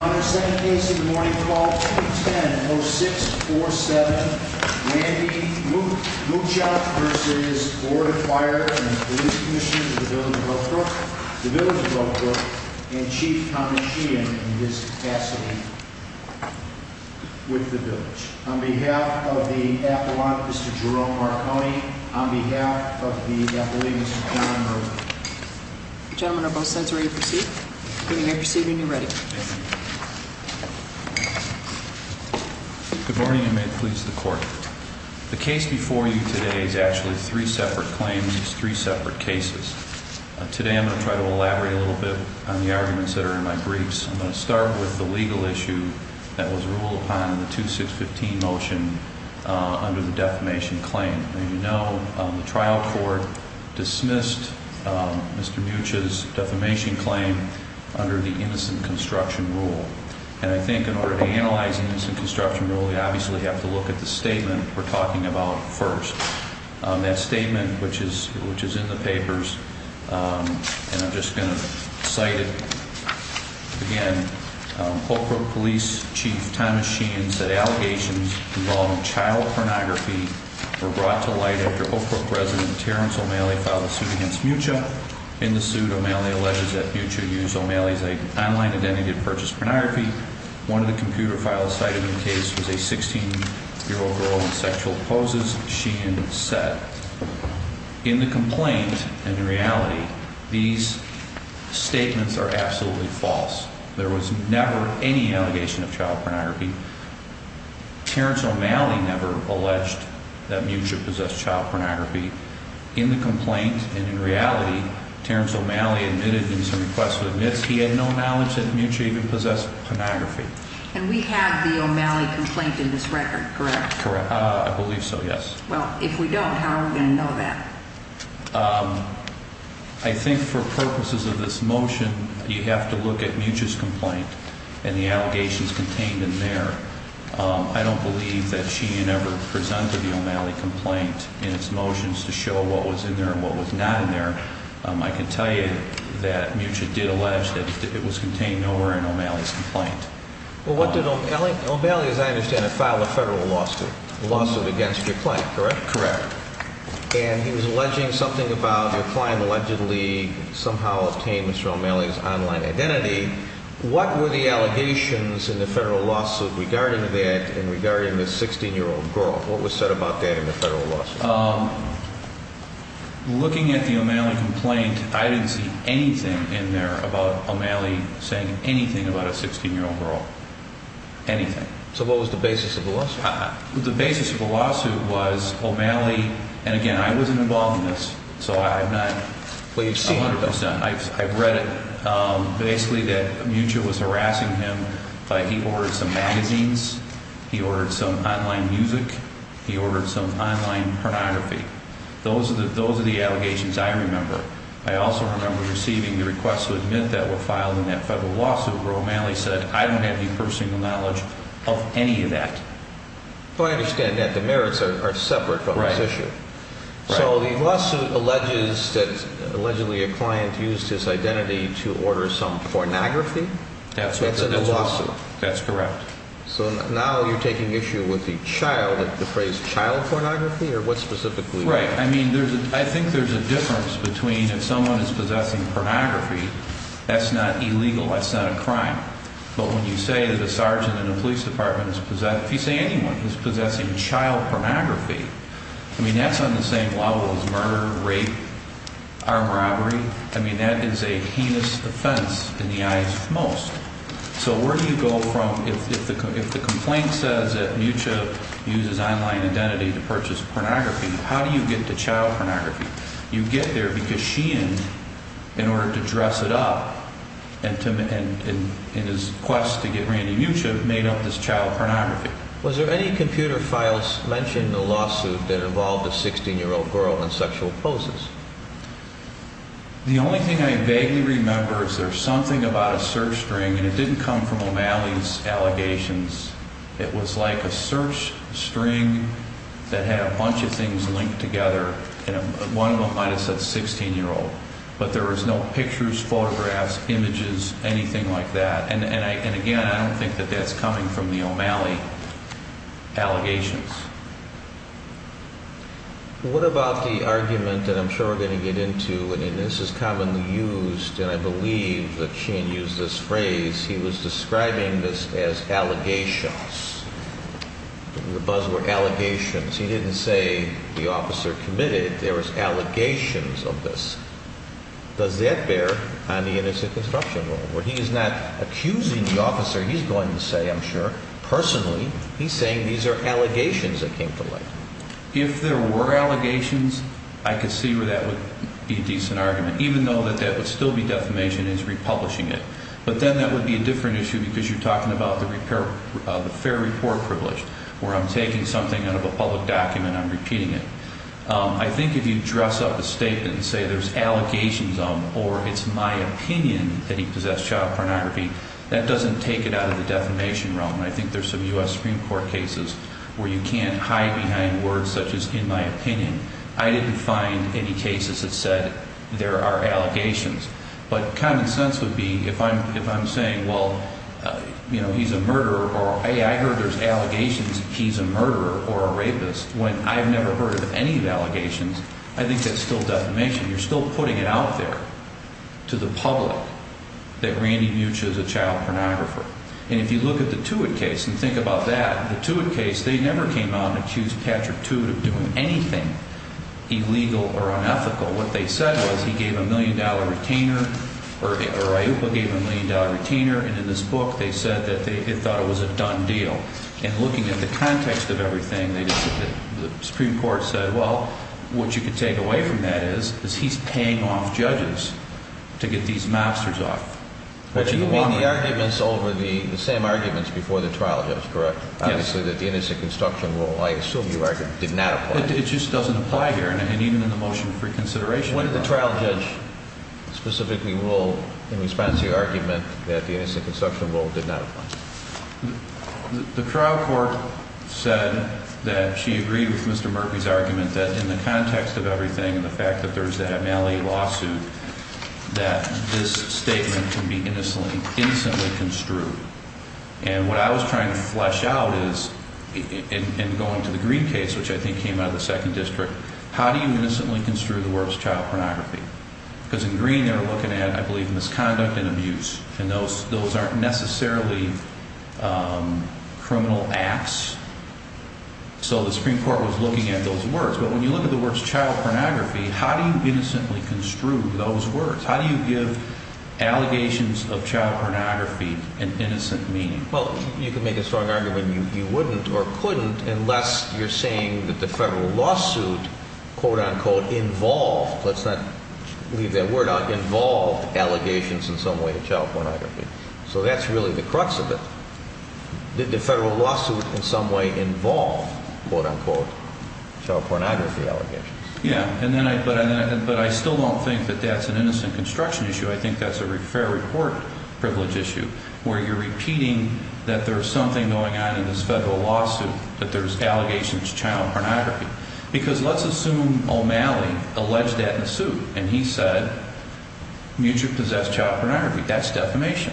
On the second case of the morning, call 210-0647, Randy Muchach v. Board of Fire and Police Commissioners of the Village of Oak Brook and Chief Kamishian in his capacity with the Village. On behalf of the Apologist Jerome Marconi, on behalf of the Epilegist John Murphy. Gentlemen, are both sides ready to proceed? When you are proceeding, you're ready. Thank you. Good morning and may it please the court. The case before you today is actually three separate claims, three separate cases. Today I'm going to try to elaborate a little bit on the arguments that are in my briefs. I'm going to start with the legal issue that was ruled upon in the 2615 motion under the defamation claim. As you know, the trial court dismissed Mr. Muchach's defamation claim under the innocent construction rule. And I think in order to analyze the innocent construction rule, we obviously have to look at the statement we're talking about first. That statement, which is in the papers, and I'm just going to cite it again. Oak Brook Police Chief Thomas Sheehan said allegations involving child pornography were brought to light after Oak Brook resident Terrence O'Malley filed a suit against Muchach. In the suit, O'Malley alleges that Muchach used O'Malley's online identity to purchase pornography. One of the computer files cited in the case was a 16-year-old girl in sexual poses, Sheehan said. In the complaint, in reality, these statements are absolutely false. There was never any allegation of child pornography. Terrence O'Malley never alleged that Muchach possessed child pornography. In the complaint, and in reality, Terrence O'Malley admitted in some requests of admits he had no knowledge that Muchach even possessed pornography. And we have the O'Malley complaint in this record, correct? Correct. I believe so, yes. Well, if we don't, how are we going to know that? I think for purposes of this motion, you have to look at Muchach's complaint and the allegations contained in there. I don't believe that Sheehan ever presented the O'Malley complaint in its motions to show what was in there and what was not in there. I can tell you that Muchach did allege that it was contained nowhere in O'Malley's complaint. Well, what did O'Malley, as I understand it, file a federal lawsuit against your client, correct? Correct. And he was alleging something about your client allegedly somehow obtained Mr. O'Malley's online identity. What were the allegations in the federal lawsuit regarding that and regarding this 16-year-old girl? What was said about that in the federal lawsuit? Looking at the O'Malley complaint, I didn't see anything in there about O'Malley saying anything about a 16-year-old girl. Anything. So what was the basis of the lawsuit? The basis of the lawsuit was O'Malley, and again, I wasn't involved in this, so I'm not 100 percent. I've seen it. I've read it. Basically that Muchach was harassing him. He ordered some magazines. He ordered some online music. He ordered some online pornography. Those are the allegations I remember. I also remember receiving the request to admit that were filed in that federal lawsuit where O'Malley said, I don't have any personal knowledge of any of that. I understand that. The merits are separate from this issue. Right. So the lawsuit alleges that allegedly a client used his identity to order some pornography. That's correct. That's in the lawsuit. That's correct. So now you're taking issue with the phrase child pornography, or what specifically? Right. I mean, I think there's a difference between if someone is possessing pornography, that's not illegal. That's not a crime. But when you say that a sergeant in a police department is possessing, if you say anyone is possessing child pornography, I mean, that's on the same level as murder, rape, armed robbery. I mean, that is a heinous offense in the eyes of most. So where do you go from, if the complaint says that Mucha uses online identity to purchase pornography, how do you get to child pornography? You get there because sheened in order to dress it up and in his quest to get Randy Mucha made up this child pornography. Was there any computer files mentioned in the lawsuit that involved a 16-year-old girl in sexual poses? The only thing I vaguely remember is there's something about a search string, and it didn't come from O'Malley's allegations. It was like a search string that had a bunch of things linked together, and one of them might have said 16-year-old. But there was no pictures, photographs, images, anything like that. And, again, I don't think that that's coming from the O'Malley allegations. What about the argument that I'm sure we're going to get into, and this is commonly used, and I believe that sheen used this phrase, he was describing this as allegations, the buzzword allegations. He didn't say the officer committed. There was allegations of this. Does that bear on the innocent construction role, where he is not accusing the officer, he's going to say, I'm sure, personally. He's saying these are allegations that came to light. If there were allegations, I could see where that would be a decent argument, even though that would still be defamation, is republishing it. But then that would be a different issue because you're talking about the fair report privilege, where I'm taking something out of a public document and I'm repeating it. I think if you dress up a statement and say there's allegations of, or it's my opinion that he possessed child pornography, that doesn't take it out of the defamation realm. I think there's some U.S. Supreme Court cases where you can't hide behind words such as in my opinion. I didn't find any cases that said there are allegations. But common sense would be if I'm saying, well, you know, he's a murderer, or hey, I heard there's allegations that he's a murderer or a rapist, when I've never heard of any of the allegations, I think that's still defamation. You're still putting it out there to the public that Randy Butch is a child pornographer. And if you look at the Tewitt case and think about that, the Tewitt case, they never came out and accused Patrick Tewitt of doing anything illegal or unethical. What they said was he gave a million-dollar retainer, or Iupa gave a million-dollar retainer, and in this book they said that they thought it was a done deal. And looking at the context of everything, the Supreme Court said, well, what you can take away from that is, is he's paying off judges to get these mobsters off. But you mean the arguments over the same arguments before the trial judge, correct? Yes. Obviously that the innocent construction rule, I assume you argue, did not apply. It just doesn't apply here, and even in the motion for reconsideration. When did the trial judge specifically rule in response to your argument that the innocent construction rule did not apply? The trial court said that she agreed with Mr. Murphy's argument that in the context of everything and the fact that there's the Malley lawsuit, that this statement can be innocently construed. And what I was trying to flesh out is, in going to the Green case, which I think came out of the Second District, how do you innocently construe the worst child pornography? Because in Green they were looking at, I believe, misconduct and abuse, and those aren't necessarily criminal acts. So the Supreme Court was looking at those words. But when you look at the words child pornography, how do you innocently construe those words? How do you give allegations of child pornography an innocent meaning? Well, you can make a strong argument you wouldn't or couldn't unless you're saying that the federal lawsuit, quote-unquote, involved, let's not leave that word out, involved allegations in some way of child pornography. So that's really the crux of it. Did the federal lawsuit in some way involve, quote-unquote, child pornography allegations? Yeah, but I still don't think that that's an innocent construction issue. I think that's a fair report privilege issue, where you're repeating that there's something going on in this federal lawsuit, that there's allegations of child pornography. Because let's assume O'Malley alleged that in the suit, and he said, you two possess child pornography. That's defamation.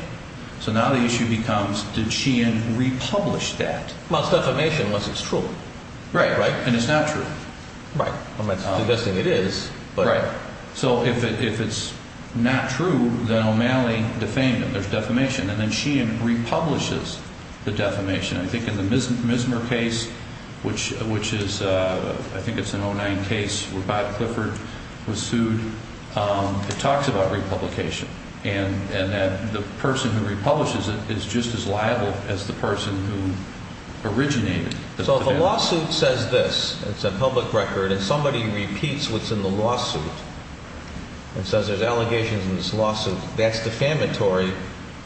So now the issue becomes, did Sheehan republish that? Well, it's defamation once it's true. Right, right. And it's not true. Right. I'm suggesting it is. Right. So if it's not true, then O'Malley defamed him. There's defamation. And then Sheehan republishes the defamation. I think in the Mismer case, which is, I think it's an 09 case where Bob Clifford was sued, it talks about republication. And that the person who republishes it is just as liable as the person who originated it. So if a lawsuit says this, it's a public record, and somebody repeats what's in the lawsuit, and says there's allegations in this lawsuit, that's defamatory.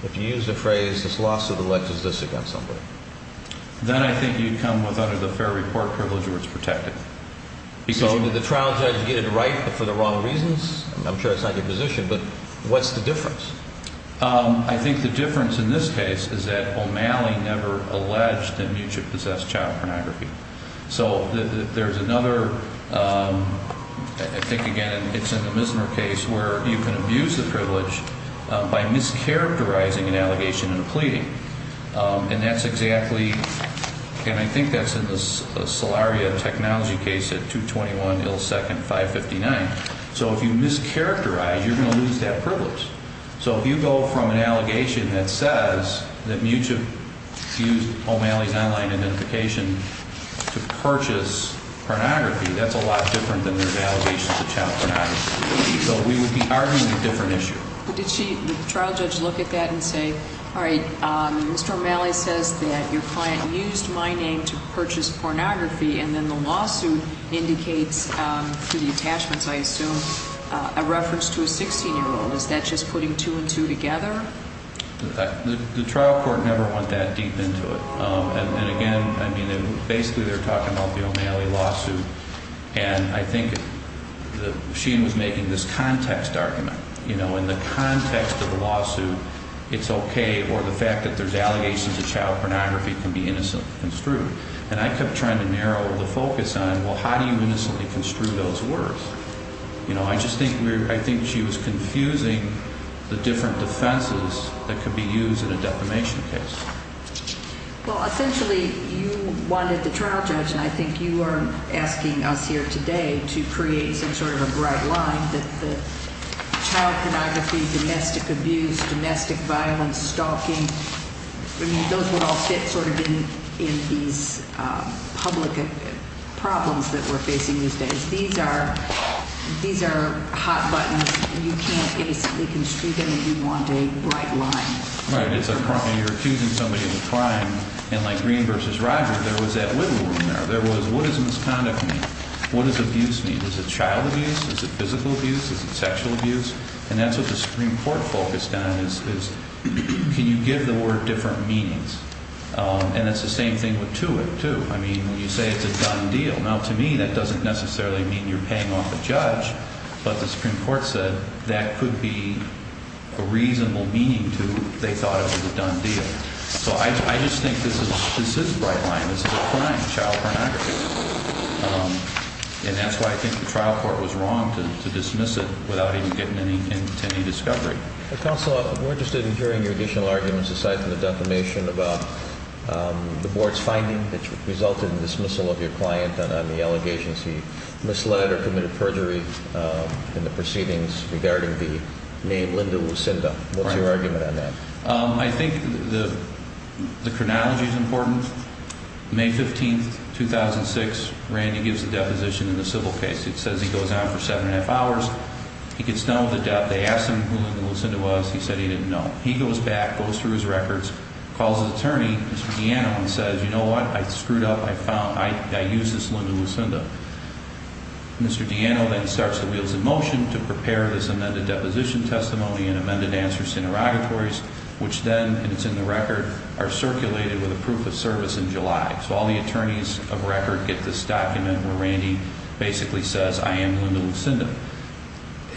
If you use the phrase, this lawsuit alleges this against somebody. Then I think you'd come with, under the fair report privilege, where it's protected. So did the trial judge get it right for the wrong reasons? I'm sure it's not your position, but what's the difference? I think the difference in this case is that O'Malley never alleged that Mucich possessed child pornography. So there's another, I think, again, it's in the Mismer case, where you can abuse the privilege by mischaracterizing an allegation in a pleading. And that's exactly, and I think that's in the Solaria technology case at 221 Ill Second 559. So if you mischaracterize, you're going to lose that privilege. So if you go from an allegation that says that Mucich used O'Malley's online identification to purchase pornography, that's a lot different than there's allegations of child pornography. So we would be arguing a different issue. But did the trial judge look at that and say, all right, Mr. O'Malley says that your client used my name to purchase pornography, and then the lawsuit indicates through the attachments, I assume, a reference to a 16-year-old. Is that just putting two and two together? The trial court never went that deep into it. And, again, I mean, basically they're talking about the O'Malley lawsuit, and I think she was making this context argument. You know, in the context of the lawsuit, it's okay, or the fact that there's allegations of child pornography can be innocently construed. And I kept trying to narrow the focus on, well, how do you innocently construe those words? You know, I just think she was confusing the different defenses that could be used in a defamation case. Well, essentially you wanted the trial judge, and I think you are asking us here today to create some sort of a bright line that the child pornography, domestic abuse, domestic violence, stalking, I mean, those would all fit sort of in these public problems that we're facing these days. These are hot buttons, and you can't innocently construe them if you want a bright line. Right. You're accusing somebody of a crime, and like Green v. Rogers, there was that wiggle room there. There was what does misconduct mean? What does abuse mean? Is it child abuse? Is it physical abuse? Is it sexual abuse? And that's what the Supreme Court focused on is can you give the word different meanings? And that's the same thing with to it, too. I mean, when you say it's a done deal, now, to me, that doesn't necessarily mean you're paying off a judge, but the Supreme Court said that could be a reasonable meaning to they thought it was a done deal. So I just think this is a bright line. This is a crime, child pornography, and that's why I think the trial court was wrong to dismiss it without even getting to any discovery. Counsel, we're interested in hearing your additional arguments aside from the defamation about the board's finding that resulted in the dismissal of your client on the allegations he misled or committed perjury in the proceedings regarding the name Linda Lucinda. What's your argument on that? I think the chronology is important. May 15, 2006, Randy gives a deposition in the civil case. It says he goes on for seven and a half hours. He gets done with the debt. They ask him who Linda Lucinda was. He said he didn't know. He goes back, goes through his records, calls his attorney, Mr. Giano, and says, you know what? I screwed up. I used this Linda Lucinda. Mr. Giano then starts the wheels in motion to prepare this amended deposition testimony and amended answers to interrogatories, which then, and it's in the record, are circulated with a proof of service in July. So all the attorneys of record get this document where Randy basically says, I am Linda Lucinda.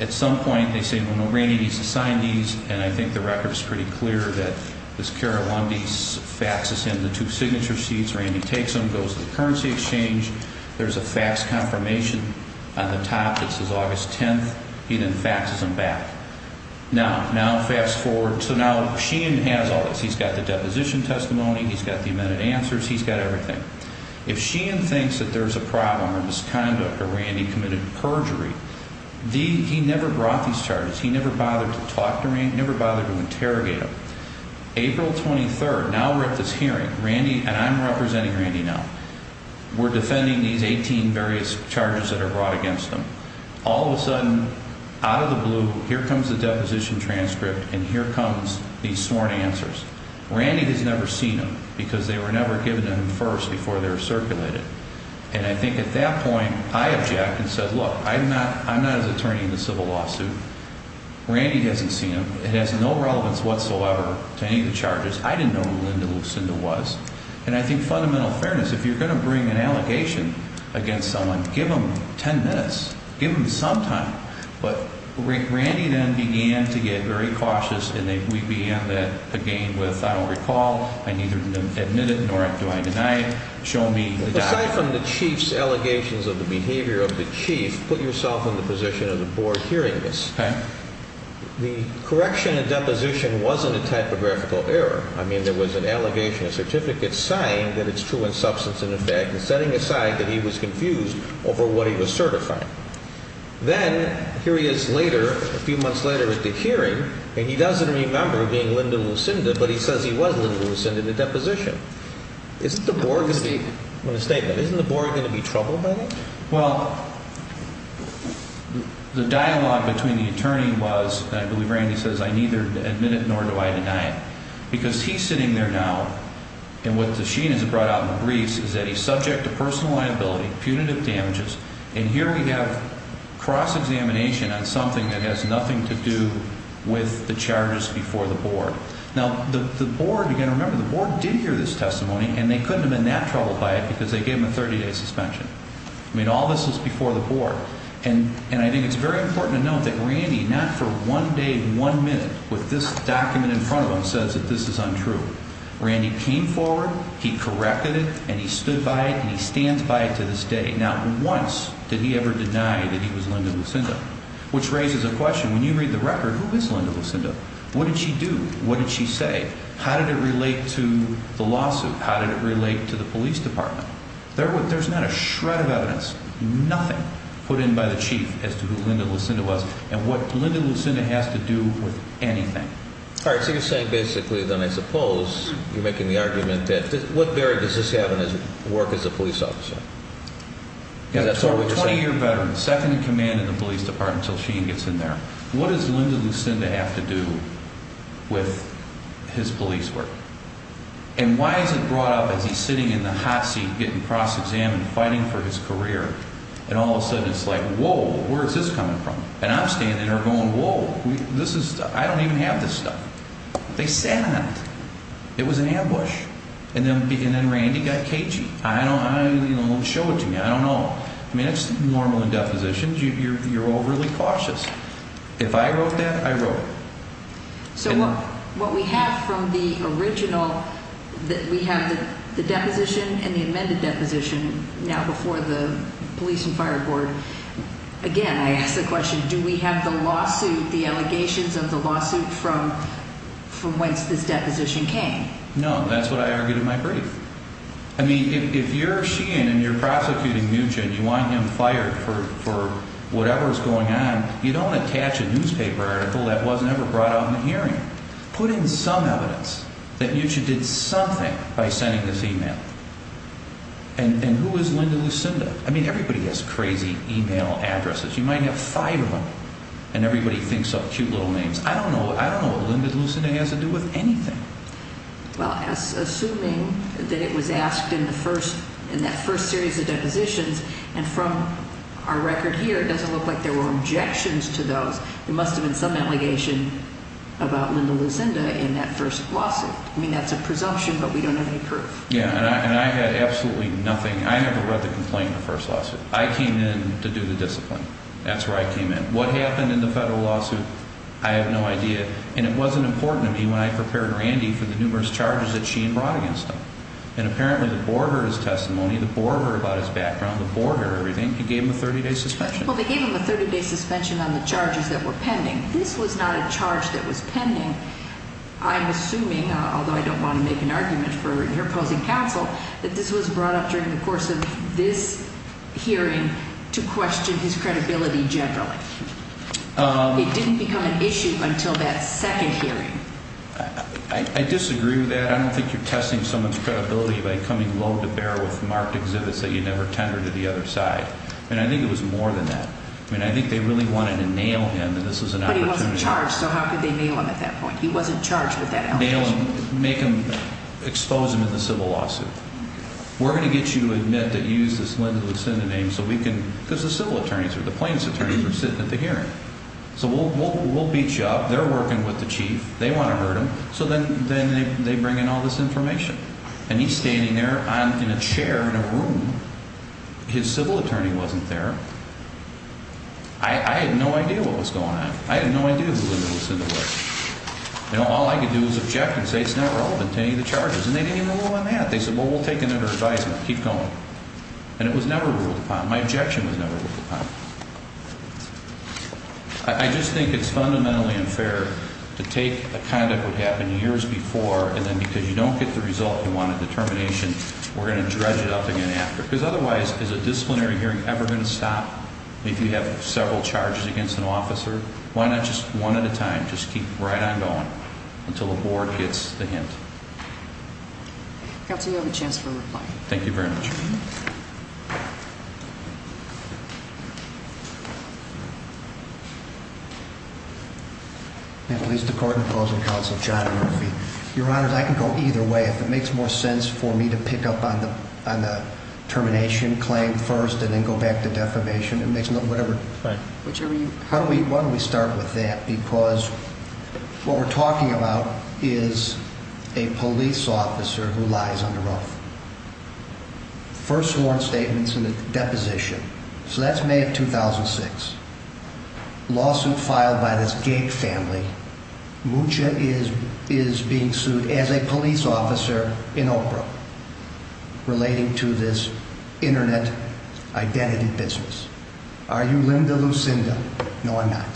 At some point, they say, well, no, Randy needs to sign these. And I think the record is pretty clear that this Kara Lundy faxes him the two signature sheets. Randy takes them, goes to the currency exchange. There's a fax confirmation on the top that says August 10th. He then faxes them back. Now, fast forward. So now Sheehan has all this. He's got the deposition testimony. He's got the amended answers. He's got everything. If Sheehan thinks that there's a problem or misconduct or Randy committed perjury, he never brought these charges. He never bothered to talk to Randy, never bothered to interrogate him. April 23rd, now we're at this hearing. Randy, and I'm representing Randy now, we're defending these 18 various charges that are brought against him. All of a sudden, out of the blue, here comes the deposition transcript, and here comes these sworn answers. Randy has never seen them because they were never given to him first before they were circulated. And I think at that point, I object and said, look, I'm not his attorney in the civil lawsuit. Randy hasn't seen them. It has no relevance whatsoever to any of the charges. I didn't know who Linda Lucinda was. And I think fundamental fairness, if you're going to bring an allegation against someone, give them 10 minutes. Give them some time. But Randy then began to get very cautious, and we began that again with, I don't recall, I neither admit it nor do I deny it. Show me the document. Aside from the chief's allegations of the behavior of the chief, put yourself in the position of the board hearing this. Okay. The correction in deposition wasn't a typographical error. I mean, there was an allegation, a certificate saying that it's true in substance and in fact, and setting aside that he was confused over what he was certifying. Then, here he is later, a few months later at the hearing, and he doesn't remember being Linda Lucinda, but he says he was Linda Lucinda in the deposition. Isn't the board going to be troubled by that? Well, the dialogue between the attorney was, I believe Randy says, I neither admit it nor do I deny it. Because he's sitting there now, and what the sheen has brought out in the briefs is that he's subject to personal liability, punitive damages, and here we have cross-examination on something that has nothing to do with the charges before the board. Now, the board, again, remember, the board did hear this testimony, and they couldn't have been that troubled by it because they gave him a 30-day suspension. I mean, all this is before the board, and I think it's very important to note that Randy, not for one day, one minute, with this document in front of him says that this is untrue. Randy came forward, he corrected it, and he stood by it, and he stands by it to this day. Not once did he ever deny that he was Linda Lucinda, which raises a question. When you read the record, who is Linda Lucinda? What did she do? What did she say? How did it relate to the lawsuit? How did it relate to the police department? There's not a shred of evidence, nothing, put in by the chief as to who Linda Lucinda was and what Linda Lucinda has to do with anything. All right, so you're saying basically then I suppose you're making the argument that what barrier does this have in his work as a police officer? Is that sort of what you're saying? So a 20-year veteran, second in command in the police department until she gets in there, what does Linda Lucinda have to do with his police work? And why is it brought up as he's sitting in the hot seat getting cross-examined, fighting for his career, and all of a sudden it's like, whoa, where is this coming from? And I'm standing there going, whoa, I don't even have this stuff. They sat on it. It was an ambush. And then Randy got cagey. I don't know. Show it to me. I don't know. I mean, it's normal in depositions. You're overly cautious. If I wrote that, I wrote it. So, look, what we have from the original, we have the deposition and the amended deposition now before the police and fire board. Again, I ask the question, do we have the lawsuit, the allegations of the lawsuit from whence this deposition came? No, that's what I argued in my brief. I mean, if you're a Sheehan and you're prosecuting Muchen, you want him fired for whatever is going on, you don't attach a newspaper article that wasn't ever brought out in the hearing. Put in some evidence that Muchen did something by sending this e-mail. And who is Linda Lucinda? I mean, everybody has crazy e-mail addresses. You might have five of them and everybody thinks of cute little names. I don't know what Linda Lucinda has to do with anything. Well, assuming that it was asked in the first, in that first series of depositions, and from our record here, it doesn't look like there were objections to those. There must have been some allegation about Linda Lucinda in that first lawsuit. I mean, that's a presumption, but we don't have any proof. Yeah, and I had absolutely nothing. I never read the complaint in the first lawsuit. I came in to do the discipline. That's where I came in. What happened in the federal lawsuit, I have no idea. And it wasn't important to me when I prepared Randy for the numerous charges that she had brought against him. And apparently the board heard his testimony, the board heard about his background, the board heard everything. It gave him a 30-day suspension. Well, they gave him a 30-day suspension on the charges that were pending. This was not a charge that was pending. I'm assuming, although I don't want to make an argument for your opposing counsel, that this was brought up during the course of this hearing to question his credibility generally. It didn't become an issue until that second hearing. I disagree with that. I don't think you're testing someone's credibility by coming low to bear with marked exhibits that you never tendered to the other side. And I think it was more than that. I mean, I think they really wanted to nail him, and this was an opportunity. But he wasn't charged, so how could they nail him at that point? He wasn't charged with that allegation. Nail him, make him, expose him in the civil lawsuit. We're going to get you to admit that you used this Linda Lucinda name so we can – because the civil attorneys are the plaintiffs' attorneys who are sitting at the hearing. So we'll beat you up. They're working with the chief. They want to hurt him. So then they bring in all this information. And he's standing there in a chair in a room. His civil attorney wasn't there. I had no idea what was going on. I had no idea who Linda Lucinda was. All I could do was object and say it's not relevant to any of the charges. And they didn't even go on that. They said, well, we'll take another advisement. Keep going. And it was never ruled upon. My objection was never ruled upon. I just think it's fundamentally unfair to take a conduct that happened years before and then because you don't get the result you wanted, the termination, we're going to dredge it up again after. Because otherwise, is a disciplinary hearing ever going to stop if you have several charges against an officer? Why not just one at a time, just keep right on going until the board gets the hint? Counsel, you have a chance for a reply. Thank you very much. I'm going to release the court and closing counsel, John Murphy. Your Honor, I can go either way if it makes more sense for me to pick up on the termination claim first and then go back to defamation. Right. Why don't we start with that? Because what we're talking about is a police officer who lies under oath. First sworn statements in a deposition. So that's May of 2006. Lawsuit filed by this Gake family. Mucha is being sued as a police officer in Oprah relating to this Internet identity business. Are you Linda Lucinda? No, I'm not.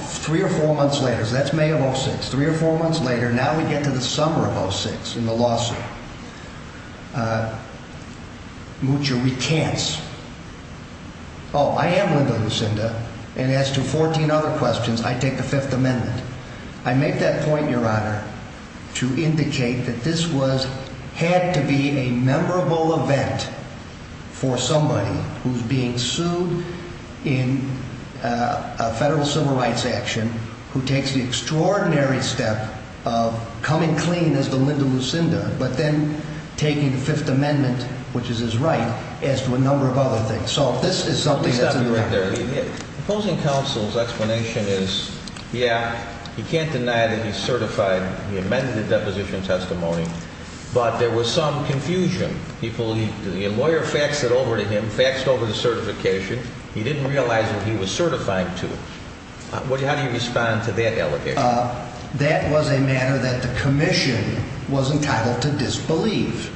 Three or four months later, that's May of 2006. Three or four months later, now we get to the summer of 2006 in the lawsuit. Mucha recants. Oh, I am Linda Lucinda. And as to 14 other questions, I take the Fifth Amendment. I make that point, Your Honor, to indicate that this was had to be a memorable event for somebody who's being sued in a federal civil rights action. Who takes the extraordinary step of coming clean as the Linda Lucinda, but then taking the Fifth Amendment, which is his right, as to a number of other things. So this is something that's in the record. The opposing counsel's explanation is, yeah, he can't deny that he's certified. He amended the deposition testimony. But there was some confusion. The lawyer faxed it over to him, faxed over the certification. He didn't realize that he was certified to it. How do you respond to that allegation? That was a matter that the commission was entitled to disbelieve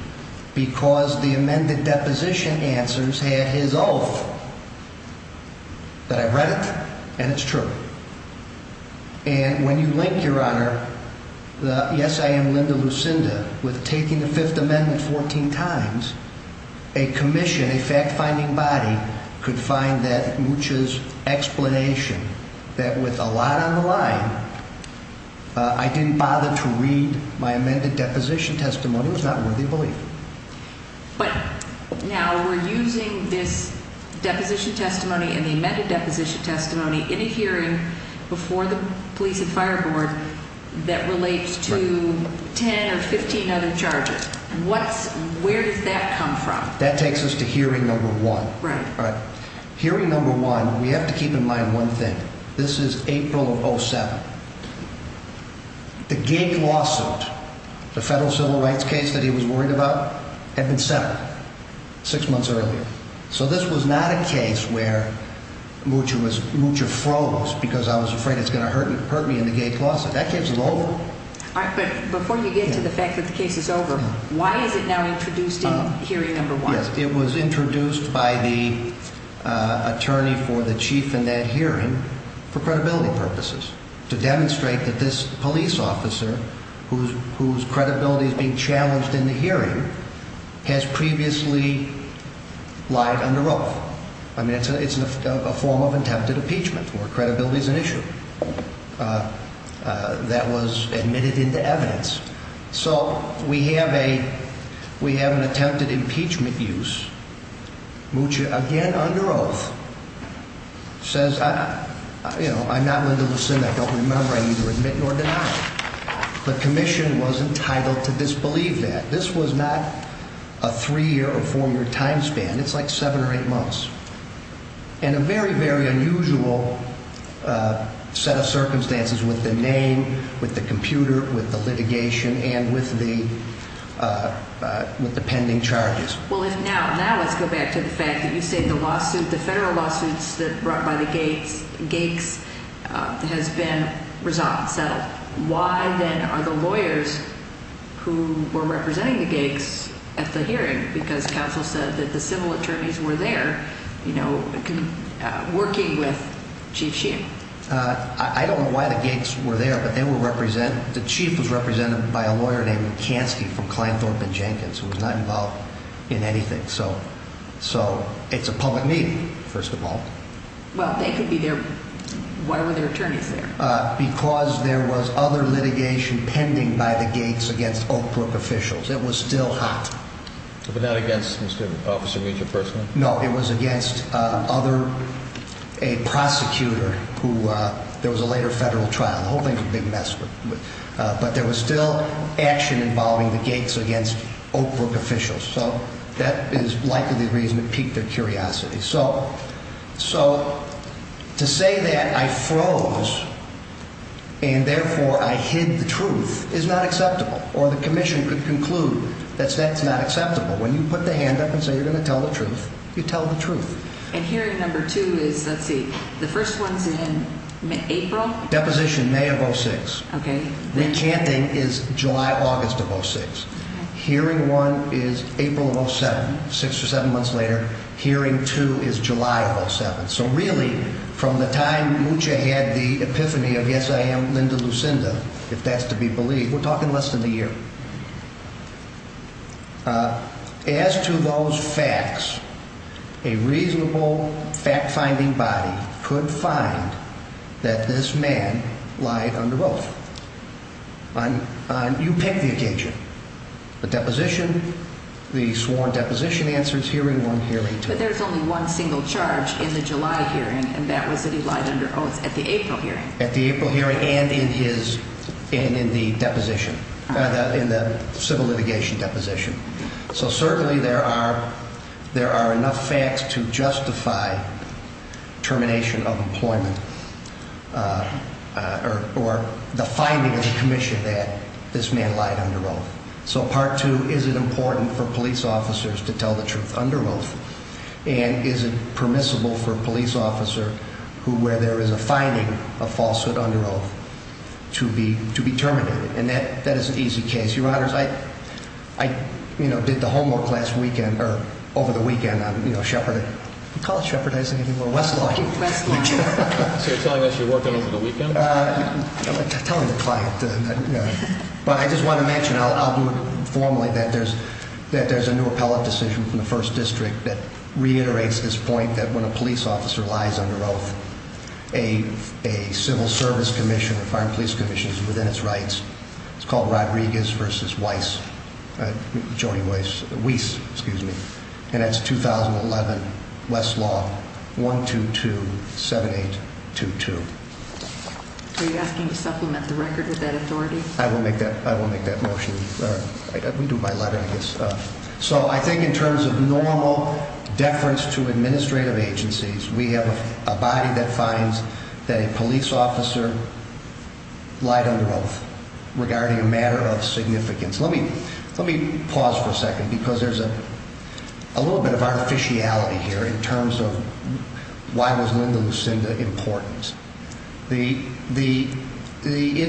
because the amended deposition answers had his oath that I read it and it's true. And when you link, Your Honor, the yes, I am Linda Lucinda with taking the Fifth Amendment 14 times, a commission, a fact-finding body could find that Mucha's explanation that with a lot on the line, I didn't bother to read my amended deposition testimony was not worthy of belief. But now we're using this deposition testimony and the amended deposition testimony in a hearing before the police and fire board that relates to 10 or 15 other charges. Where does that come from? That takes us to hearing number one. Right. Hearing number one, we have to keep in mind one thing. This is April of 07. The gate lawsuit, the federal civil rights case that he was worried about, had been settled six months earlier. So this was not a case where Mucha froze because I was afraid it's going to hurt me in the gate lawsuit. That case is over. But before you get to the fact that the case is over, why is it now introduced in hearing number one? To be honest, it was introduced by the attorney for the chief in that hearing for credibility purposes. To demonstrate that this police officer, whose credibility is being challenged in the hearing, has previously lied under oath. I mean, it's a form of attempted impeachment where credibility is an issue that was admitted into evidence. So we have an attempted impeachment use. Mucha, again under oath, says, I'm not Linda Lucinda. I don't remember. I neither admit nor deny. The commission was entitled to disbelieve that. This was not a three-year or four-year time span. It's like seven or eight months. And a very, very unusual set of circumstances with the name, with the computer, with the litigation, and with the pending charges. Well, if now, now let's go back to the fact that you say the lawsuit, the federal lawsuits that brought by the Gakes has been resolved, settled. Why, then, are the lawyers who were representing the Gakes at the hearing? Because counsel said that the civil attorneys were there, you know, working with Chief Sheehan. I don't know why the Gakes were there, but they were represent, the chief was represented by a lawyer named Kansky from Klein, Thorpe & Jenkins, who was not involved in anything. So, so it's a public meeting, first of all. Well, they could be there. Why were their attorneys there? Because there was other litigation pending by the Gakes against Oak Brook officials. It was still hot. But not against Mr. Officer Major Persman? No, it was against other, a prosecutor who, there was a later federal trial. The whole thing's a big mess. But there was still action involving the Gakes against Oak Brook officials. So that is likely the reason it piqued their curiosity. So, so to say that I froze and therefore I hid the truth is not acceptable. Or the commission could conclude that that's not acceptable. When you put the hand up and say you're going to tell the truth, you tell the truth. And hearing number two is, let's see, the first one's in April? Deposition, May of 06. Okay. Recanting is July, August of 06. Hearing one is April of 07, six or seven months later. Hearing two is July of 07. So really, from the time Mucha had the epiphany of, yes, I am Linda Lucinda, if that's to be believed, we're talking less than a year. As to those facts, a reasonable fact-finding body could find that this man lied under oath. You pick the occasion. The deposition, the sworn deposition answer is hearing one, hearing two. But there's only one single charge in the July hearing, and that was that he lied under oath at the April hearing. At the April hearing and in his, and in the deposition, in the civil litigation deposition. So certainly there are enough facts to justify termination of employment or the finding of the commission that this man lied under oath. So part two, is it important for police officers to tell the truth under oath? And is it permissible for a police officer who, where there is a finding of falsehood under oath, to be terminated? And that is an easy case. Your honors, I, you know, did the homework last weekend, or over the weekend on, you know, Shepard. We call it Shepard, I just think people are westlocking. Westlocking. So you're telling us you worked on it over the weekend? I'm telling the client. But I just want to mention, I'll do it formally, that there's a new appellate decision from the first district that reiterates this point that when a police officer lies under oath, a civil service commission, a fire and police commission, is within its rights. It's called Rodriguez v. Weiss, Joni Weiss, Weiss, excuse me. And that's 2011 Westlaw 1227822. Are you asking to supplement the record with that authority? I will make that, I will make that motion. We do by letter, I guess. So I think in terms of normal deference to administrative agencies, we have a body that finds that a police officer lied under oath regarding a matter of significance. Let me pause for a second because there's a little bit of artificiality here in terms of why was Linda Lucinda important. It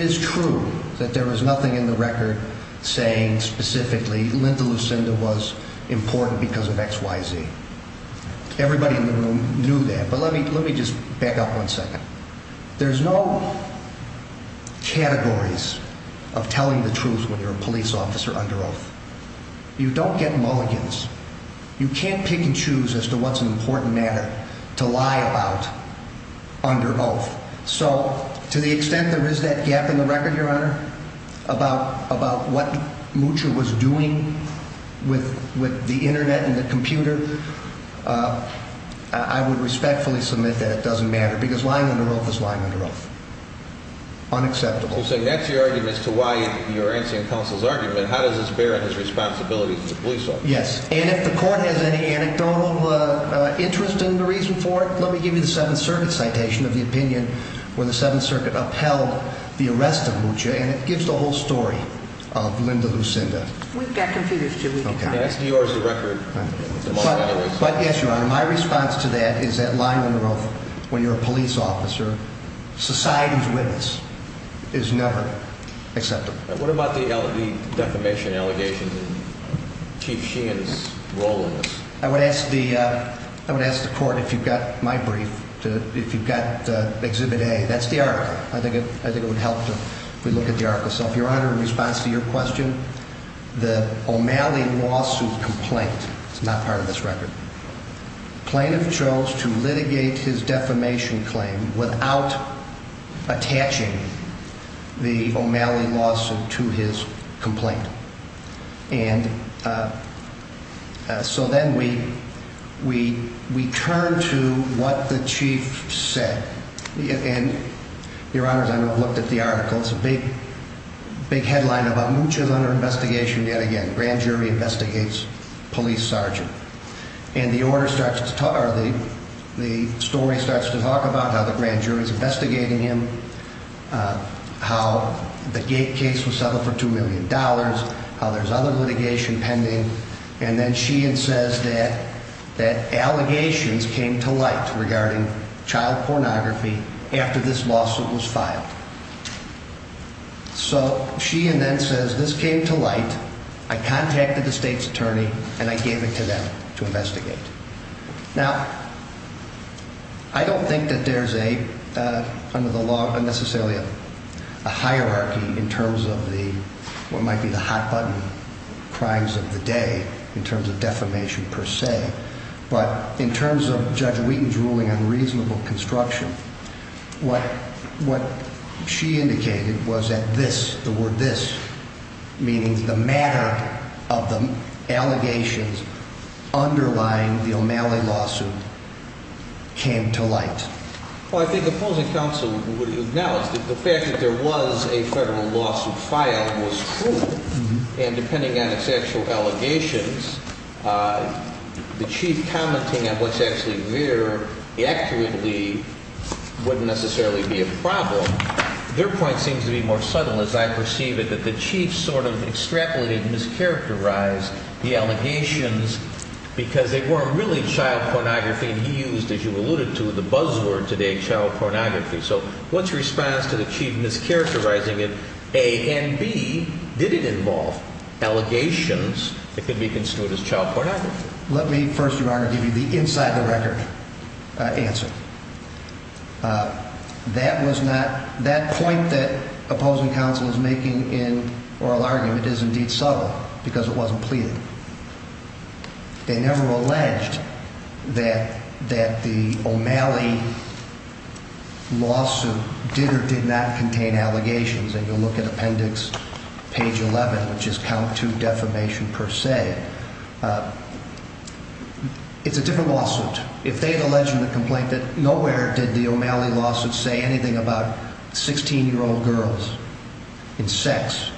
is true that there was nothing in the record saying specifically Linda Lucinda was important because of X, Y, Z. Everybody in the room knew that. But let me just back up one second. There's no categories of telling the truth when you're a police officer under oath. You don't get mulligans. You can't pick and choose as to what's an important matter to lie about under oath. So to the extent there is that gap in the record, Your Honor, about what Mucha was doing with the Internet and the computer, I would respectfully submit that it doesn't matter because lying under oath is lying under oath. Unacceptable. So that's your argument as to why you're answering counsel's argument. How does this bear on his responsibilities as a police officer? Yes. And if the court has any anecdotal interest in the reason for it, let me give you the Seventh Circuit citation of the opinion where the Seventh Circuit upheld the arrest of Mucha. And it gives the whole story of Linda Lucinda. We've got computers, too. That's New York's record. But, yes, Your Honor, my response to that is that lying under oath when you're a police officer, society's witness, is never acceptable. What about the defamation allegations and Chief Sheehan's role in this? I would ask the court, if you've got my brief, if you've got Exhibit A, that's the article. I think it would help if we look at the article. Your Honor, in response to your question, the O'Malley lawsuit complaint is not part of this record. Plaintiff chose to litigate his defamation claim without attaching the O'Malley lawsuit to his complaint. And so then we turn to what the chief said. Your Honor, I know I've looked at the article. It's a big headline about Mucha's under investigation yet again. Grand jury investigates police sergeant. And the story starts to talk about how the grand jury's investigating him, how the gate case was settled for $2 million, how there's other litigation pending. And then Sheehan says that allegations came to light regarding child pornography after this lawsuit was filed. So Sheehan then says this came to light. I contacted the state's attorney and I gave it to them to investigate. Now, I don't think that there's a, under the law, necessarily a hierarchy in terms of what might be the hot button crimes of the day in terms of defamation per se. But in terms of Judge Wheaton's ruling on reasonable construction, what she indicated was that this, the word this, meaning the matter of the allegations underlying the O'Malley lawsuit came to light. Well, I think opposing counsel would acknowledge that the fact that there was a federal lawsuit filed was true. And depending on its actual allegations, the chief commenting on what's actually there accurately wouldn't necessarily be a problem. Their point seems to be more subtle, as I perceive it, that the chief sort of extrapolated, mischaracterized the allegations because they weren't really child pornography. And he used, as you alluded to, the buzzword today, child pornography. So what's your response to the chief mischaracterizing it, A, and B, did it involve allegations that could be construed as child pornography? Let me first, Your Honor, give you the inside the record answer. That was not, that point that opposing counsel is making in oral argument is indeed subtle because it wasn't pleaded. They never alleged that the O'Malley lawsuit did or did not contain allegations. And you'll look at appendix page 11, which is count two defamation per se. It's a different lawsuit. If they had alleged in the complaint that nowhere did the O'Malley lawsuit say anything about 16-year-old girls and sex.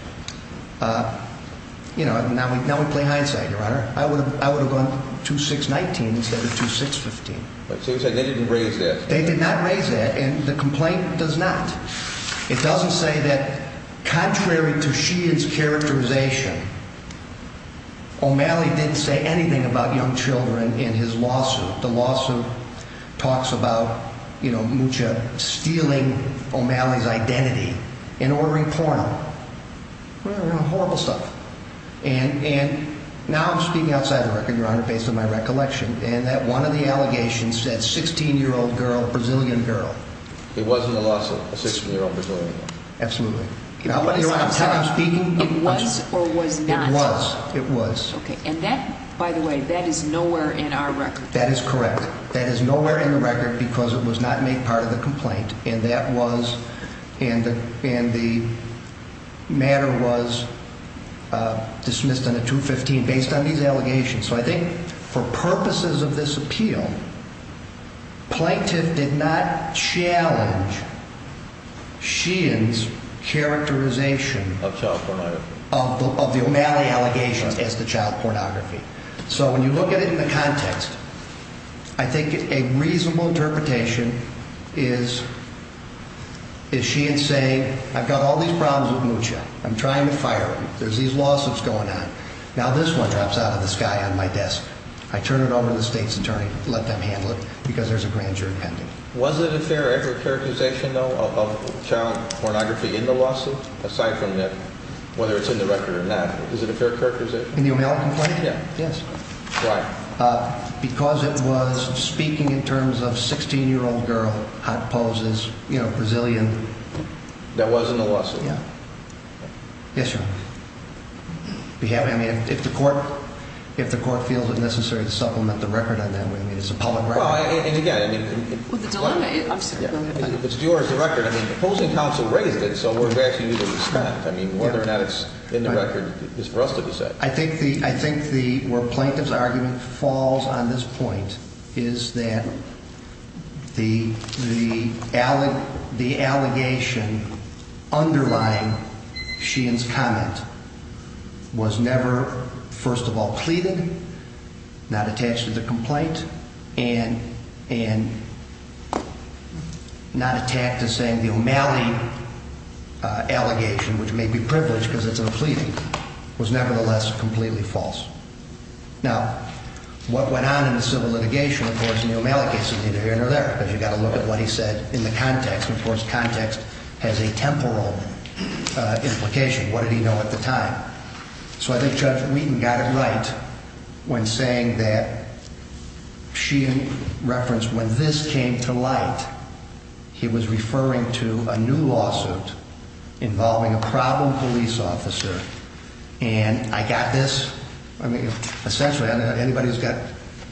You know, now we play hindsight, Your Honor. I would have gone 2619 instead of 2615. But they said they didn't raise that. They did not raise that, and the complaint does not. It doesn't say that contrary to Sheehan's characterization, O'Malley didn't say anything about young children in his lawsuit. The lawsuit talks about, you know, Mucha stealing O'Malley's identity and ordering porno. Horrible stuff. And now I'm speaking outside the record, Your Honor, based on my recollection. And that one of the allegations said 16-year-old girl, Brazilian girl. It wasn't a lawsuit, a 16-year-old Brazilian girl. Absolutely. It was or was not. It was. Okay. And that, by the way, that is nowhere in our record. That is correct. That is nowhere in the record because it was not made part of the complaint. And that was, and the matter was dismissed on a 215 based on these allegations. So I think for purposes of this appeal, plaintiff did not challenge Sheehan's characterization of the O'Malley allegations as the child pornography. So when you look at it in the context, I think a reasonable interpretation is Sheehan saying I've got all these problems with Mucha. I'm trying to fire him. There's these lawsuits going on. Now this one drops out of the sky on my desk. I turn it over to the state's attorney, let them handle it because there's a grand jury pending. Was it a fair characterization, though, of child pornography in the lawsuit? Aside from whether it's in the record or not, is it a fair characterization? In the O'Malley complaint? Yeah. Yes. Why? Because it was speaking in terms of 16-year-old girl, hot poses, you know, Brazilian. That was in the lawsuit? Yeah. Okay. Yes, Your Honor. I mean, if the court feels it necessary to supplement the record on that, I mean, it's a public record. Well, and again, I mean. Well, the dilemma is. I'm sorry. It's yours, the record. I mean, the opposing counsel raised it, so we're asking you to respect. I mean, whether or not it's in the record is for us to decide. I think the, I think the, where plaintiff's argument falls on this point is that the, the, the allegation underlying Sheehan's comment was never, first of all, pleaded, not attached to the complaint, and, and not attacked as saying the O'Malley allegation, which may be privileged because it's a pleading, was nevertheless completely false. Now, what went on in the civil litigation, of course, in the O'Malley case is either here or there, because you've got to look at what he said in the context. Of course, context has a temporal implication. What did he know at the time? So I think Judge Wheaton got it right when saying that Sheehan referenced when this came to light, he was referring to a new lawsuit involving a problem police officer. And I got this. I mean, essentially, anybody who's got,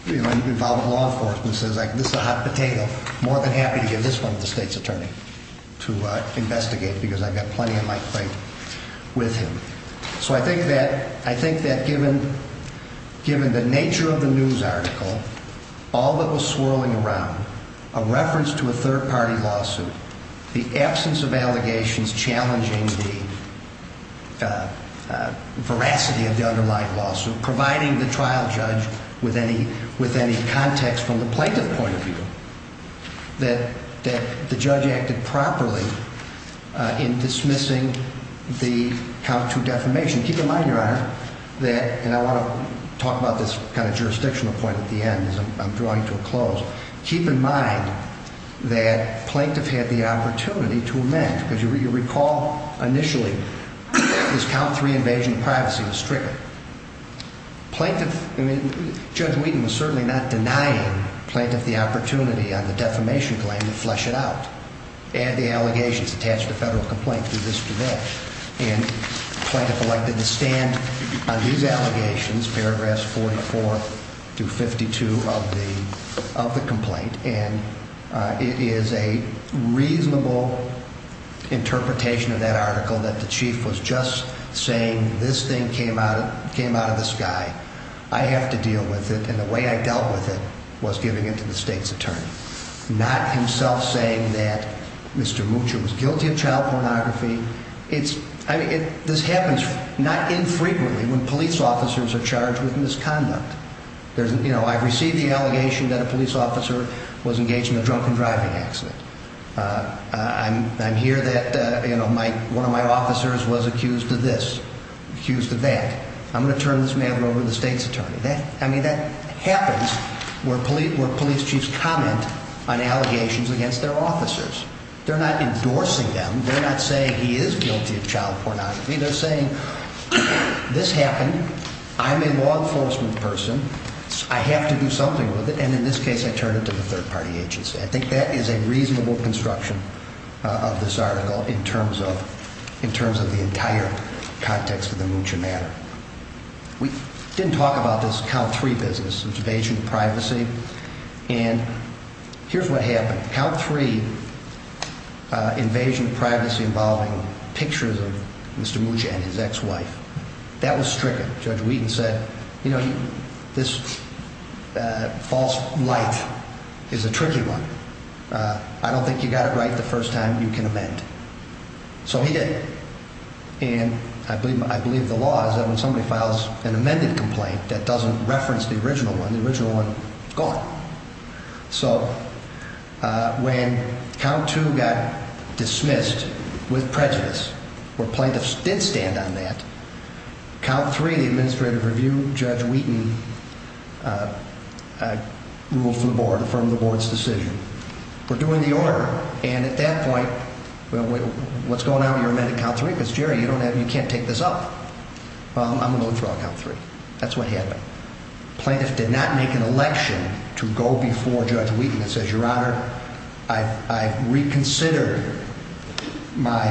you know, involved in law enforcement says, like, this is a hot potato. More than happy to give this one to the state's attorney to investigate, because I've got plenty of my claim with him. So I think that, I think that given, given the nature of the news article, all that was swirling around, a reference to a third-party lawsuit, the absence of allegations challenging the veracity of the underlying lawsuit, providing the trial judge with any, with any context from the plaintiff point of view, that the judge acted properly in dismissing the count two defamation. Keep in mind, Your Honor, that, and I want to talk about this kind of jurisdictional point at the end, because I'm drawing to a close. Keep in mind that plaintiff had the opportunity to amend, because you recall initially this count three invasion of privacy was stricter. Plaintiff, I mean, Judge Wheaton was certainly not denying plaintiff the opportunity on the defamation claim to flesh it out. Add the allegations attached to federal complaint to this today. And plaintiff elected to stand on these allegations, paragraphs 44 through 52 of the, of the complaint. And it is a reasonable interpretation of that article that the chief was just saying, this thing came out of, came out of the sky. I have to deal with it. And the way I dealt with it was giving it to the state's attorney, not himself saying that Mr. Mucho was guilty of child pornography. It's, I mean, this happens not infrequently when police officers are charged with misconduct. There's, you know, I've received the allegation that a police officer was engaged in a drunken driving accident. I'm, I'm here that, you know, my, one of my officers was accused of this, accused of that. I'm going to turn this man over to the state's attorney. That, I mean, that happens where police, where police chiefs comment on allegations against their officers. They're not endorsing them. They're not saying he is guilty of child pornography. They're saying this happened. I'm a law enforcement person. I have to do something with it. And in this case, I turn it to the third party agency. I think that is a reasonable construction of this article in terms of, in terms of the entire context of the Mucho matter. We didn't talk about this count three business, invasion of privacy. And here's what happened. Count three invasion of privacy involving pictures of Mr. Mucho and his ex-wife. That was stricken. Judge Wheaton said, you know, this false light is a tricky one. I don't think you got it right the first time. You can amend. So he did. And I believe, I believe the law is that when somebody files an amended complaint that doesn't reference the original one, it's gone. So when count two got dismissed with prejudice, where plaintiffs did stand on that, count three, the administrative review, Judge Wheaton ruled for the board, affirmed the board's decision. We're doing the order. And at that point, what's going on with your amended count three? Because, Jerry, you don't have, you can't take this up. Well, I'm going to withdraw count three. That's what happened. Plaintiffs did not make an election to go before Judge Wheaton that says, Your Honor, I reconsidered my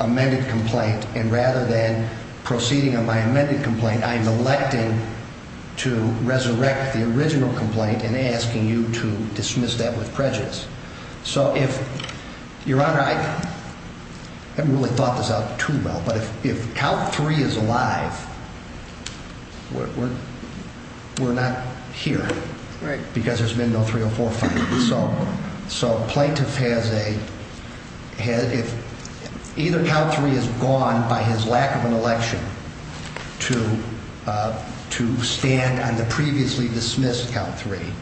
amended complaint, and rather than proceeding on my amended complaint, I'm electing to resurrect the original complaint and asking you to dismiss that with prejudice. So if, Your Honor, I haven't really thought this out too well, but if count three is alive, we're not here. Right. Because there's been no 304 filing. So plaintiff has a, either count three is gone by his lack of an election to stand on the previously dismissed count three,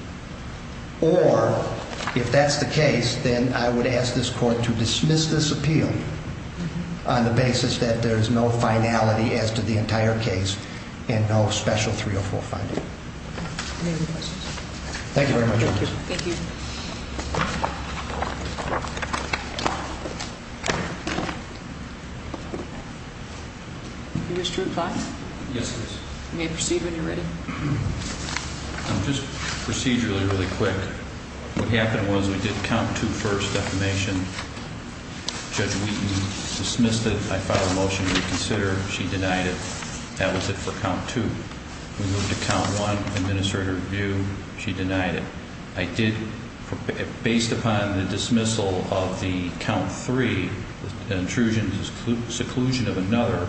or if that's the case, then I would ask this court to dismiss this appeal on the basis that there is no finality as to the entire case and no special 304 finding. Any other questions? Thank you very much, Your Honor. Thank you. Mr. O'Keefe? Yes, please. You may proceed when you're ready. Just procedurally really quick, what happened was we did count two first defamation. Judge Wheaton dismissed it. I filed a motion to reconsider. She denied it. That was it for count two. We moved to count one, administrative review. She denied it. I did, based upon the dismissal of the count three, intrusions, seclusion of another,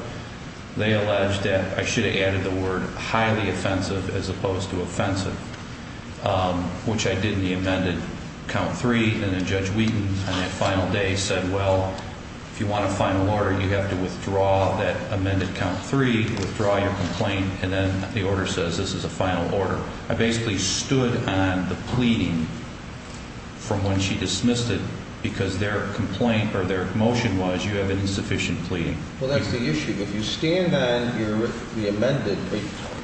they alleged that I should have added the word highly offensive as opposed to offensive, which I did in the amended count three, and then Judge Wheaton on that final day said, well, if you want a final order, you have to withdraw that amended count three, withdraw your complaint, and then the order says this is a final order. I basically stood on the pleading from when she dismissed it because their complaint or their motion was you have an insufficient pleading. Well, that's the issue. If you stand on the amended,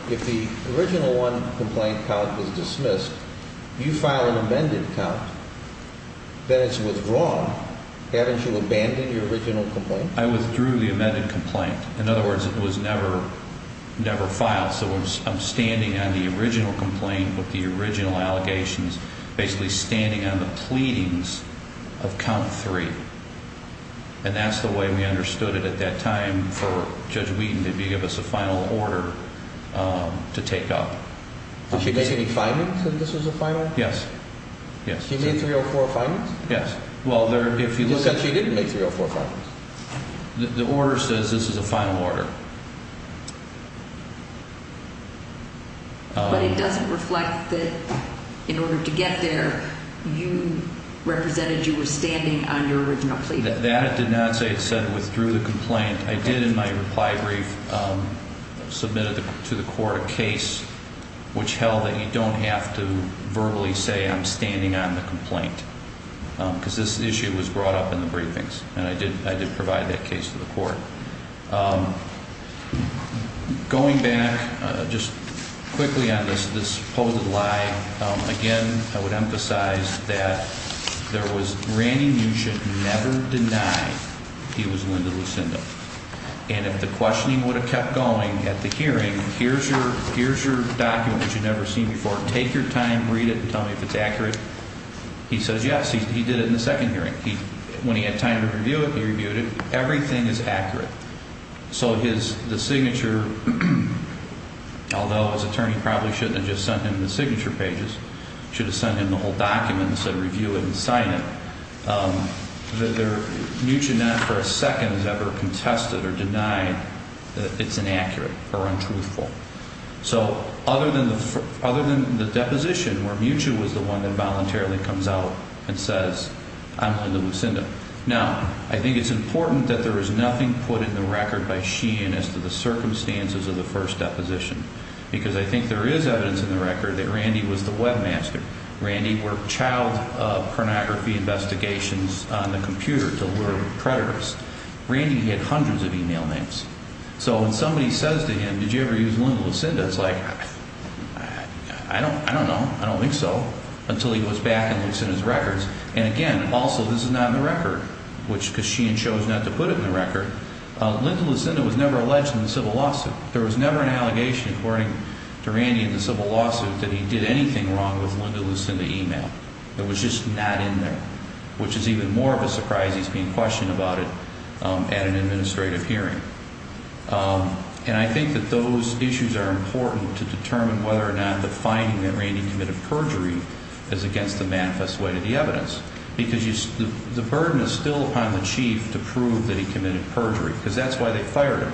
if the original one complaint count is dismissed, you file an amended count, then it's withdrawn. Haven't you abandoned your original complaint? I withdrew the amended complaint. In other words, it was never filed, so I'm standing on the original complaint with the original allegations, basically standing on the pleadings of count three, and that's the way we understood it at that time for Judge Wheaton to give us a final order to take up. Did she make any findings that this was a final? Yes. She made three or four findings? Yes. Well, if you look at... She said she didn't make three or four findings. The order says this is a final order. But it doesn't reflect that in order to get there, you represented you were standing on your original pleading. That did not say it said withdrew the complaint. I did in my reply brief submitted to the court a case which held that you don't have to verbally say I'm standing on the complaint because this issue was brought up in the briefings, and I did provide that case to the court. Going back just quickly on this supposed lie, again, I would emphasize that there was... Randy Mucin never denied he was Linda Lucinda, and if the questioning would have kept going at the hearing, here's your document that you've never seen before, take your time, read it, and tell me if it's accurate, he says yes, he did it in the second hearing. When he had time to review it, he reviewed it. Everything is accurate. So the signature, although his attorney probably shouldn't have just sent him the signature pages, should have sent him the whole document and said review it and sign it, Mucin not for a second has ever contested or denied that it's inaccurate or untruthful. So other than the deposition where Mucin was the one that voluntarily comes out and says I'm Linda Lucinda. Now, I think it's important that there is nothing put in the record by Sheehan as to the circumstances of the first deposition because I think there is evidence in the record that Randy was the webmaster. Randy worked child pornography investigations on the computer to lure predators. Randy had hundreds of email names. So when somebody says to him, did you ever use Linda Lucinda? It's like, I don't know, I don't think so, until he goes back and looks in his records. And, again, also this is not in the record because Sheehan chose not to put it in the record. Linda Lucinda was never alleged in the civil lawsuit. There was never an allegation according to Randy in the civil lawsuit that he did anything wrong with Linda Lucinda email. It was just not in there, which is even more of a surprise he's being questioned about it at an administrative hearing. And I think that those issues are important to determine whether or not the finding that Randy committed perjury is against the manifest way to the evidence because the burden is still upon the chief to prove that he committed perjury because that's why they fired him.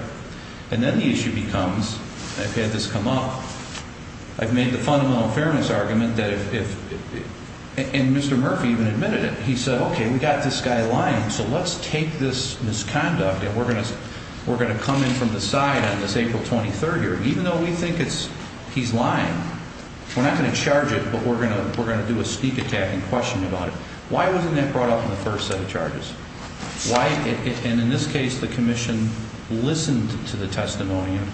And then the issue becomes, I've had this come up, I've made the fundamental fairness argument that if, and Mr. Murphy even admitted it, he said, okay, we've got this guy lying, so let's take this misconduct and we're going to come in from the side on this April 23rd hearing. Even though we think he's lying, we're not going to charge it, but we're going to do a sneak attack and question about it. Why wasn't that brought up in the first set of charges? And in this case, the commission listened to the testimony and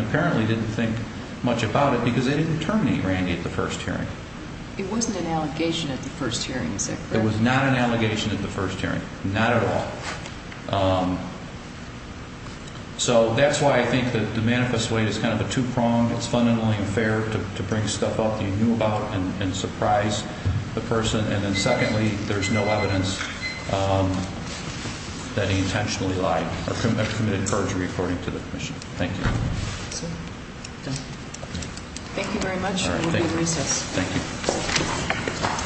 apparently didn't think much about it because they didn't terminate Randy at the first hearing. It wasn't an allegation at the first hearing, is it? It was not an allegation at the first hearing, not at all. So that's why I think that the manifest way is kind of a two-pronged. It's fundamentally unfair to bring stuff up that you knew about and surprise the person. And then secondly, there's no evidence that he intentionally lied or committed perjury according to the commission. Thank you. Thank you very much. We'll be at recess. Thank you.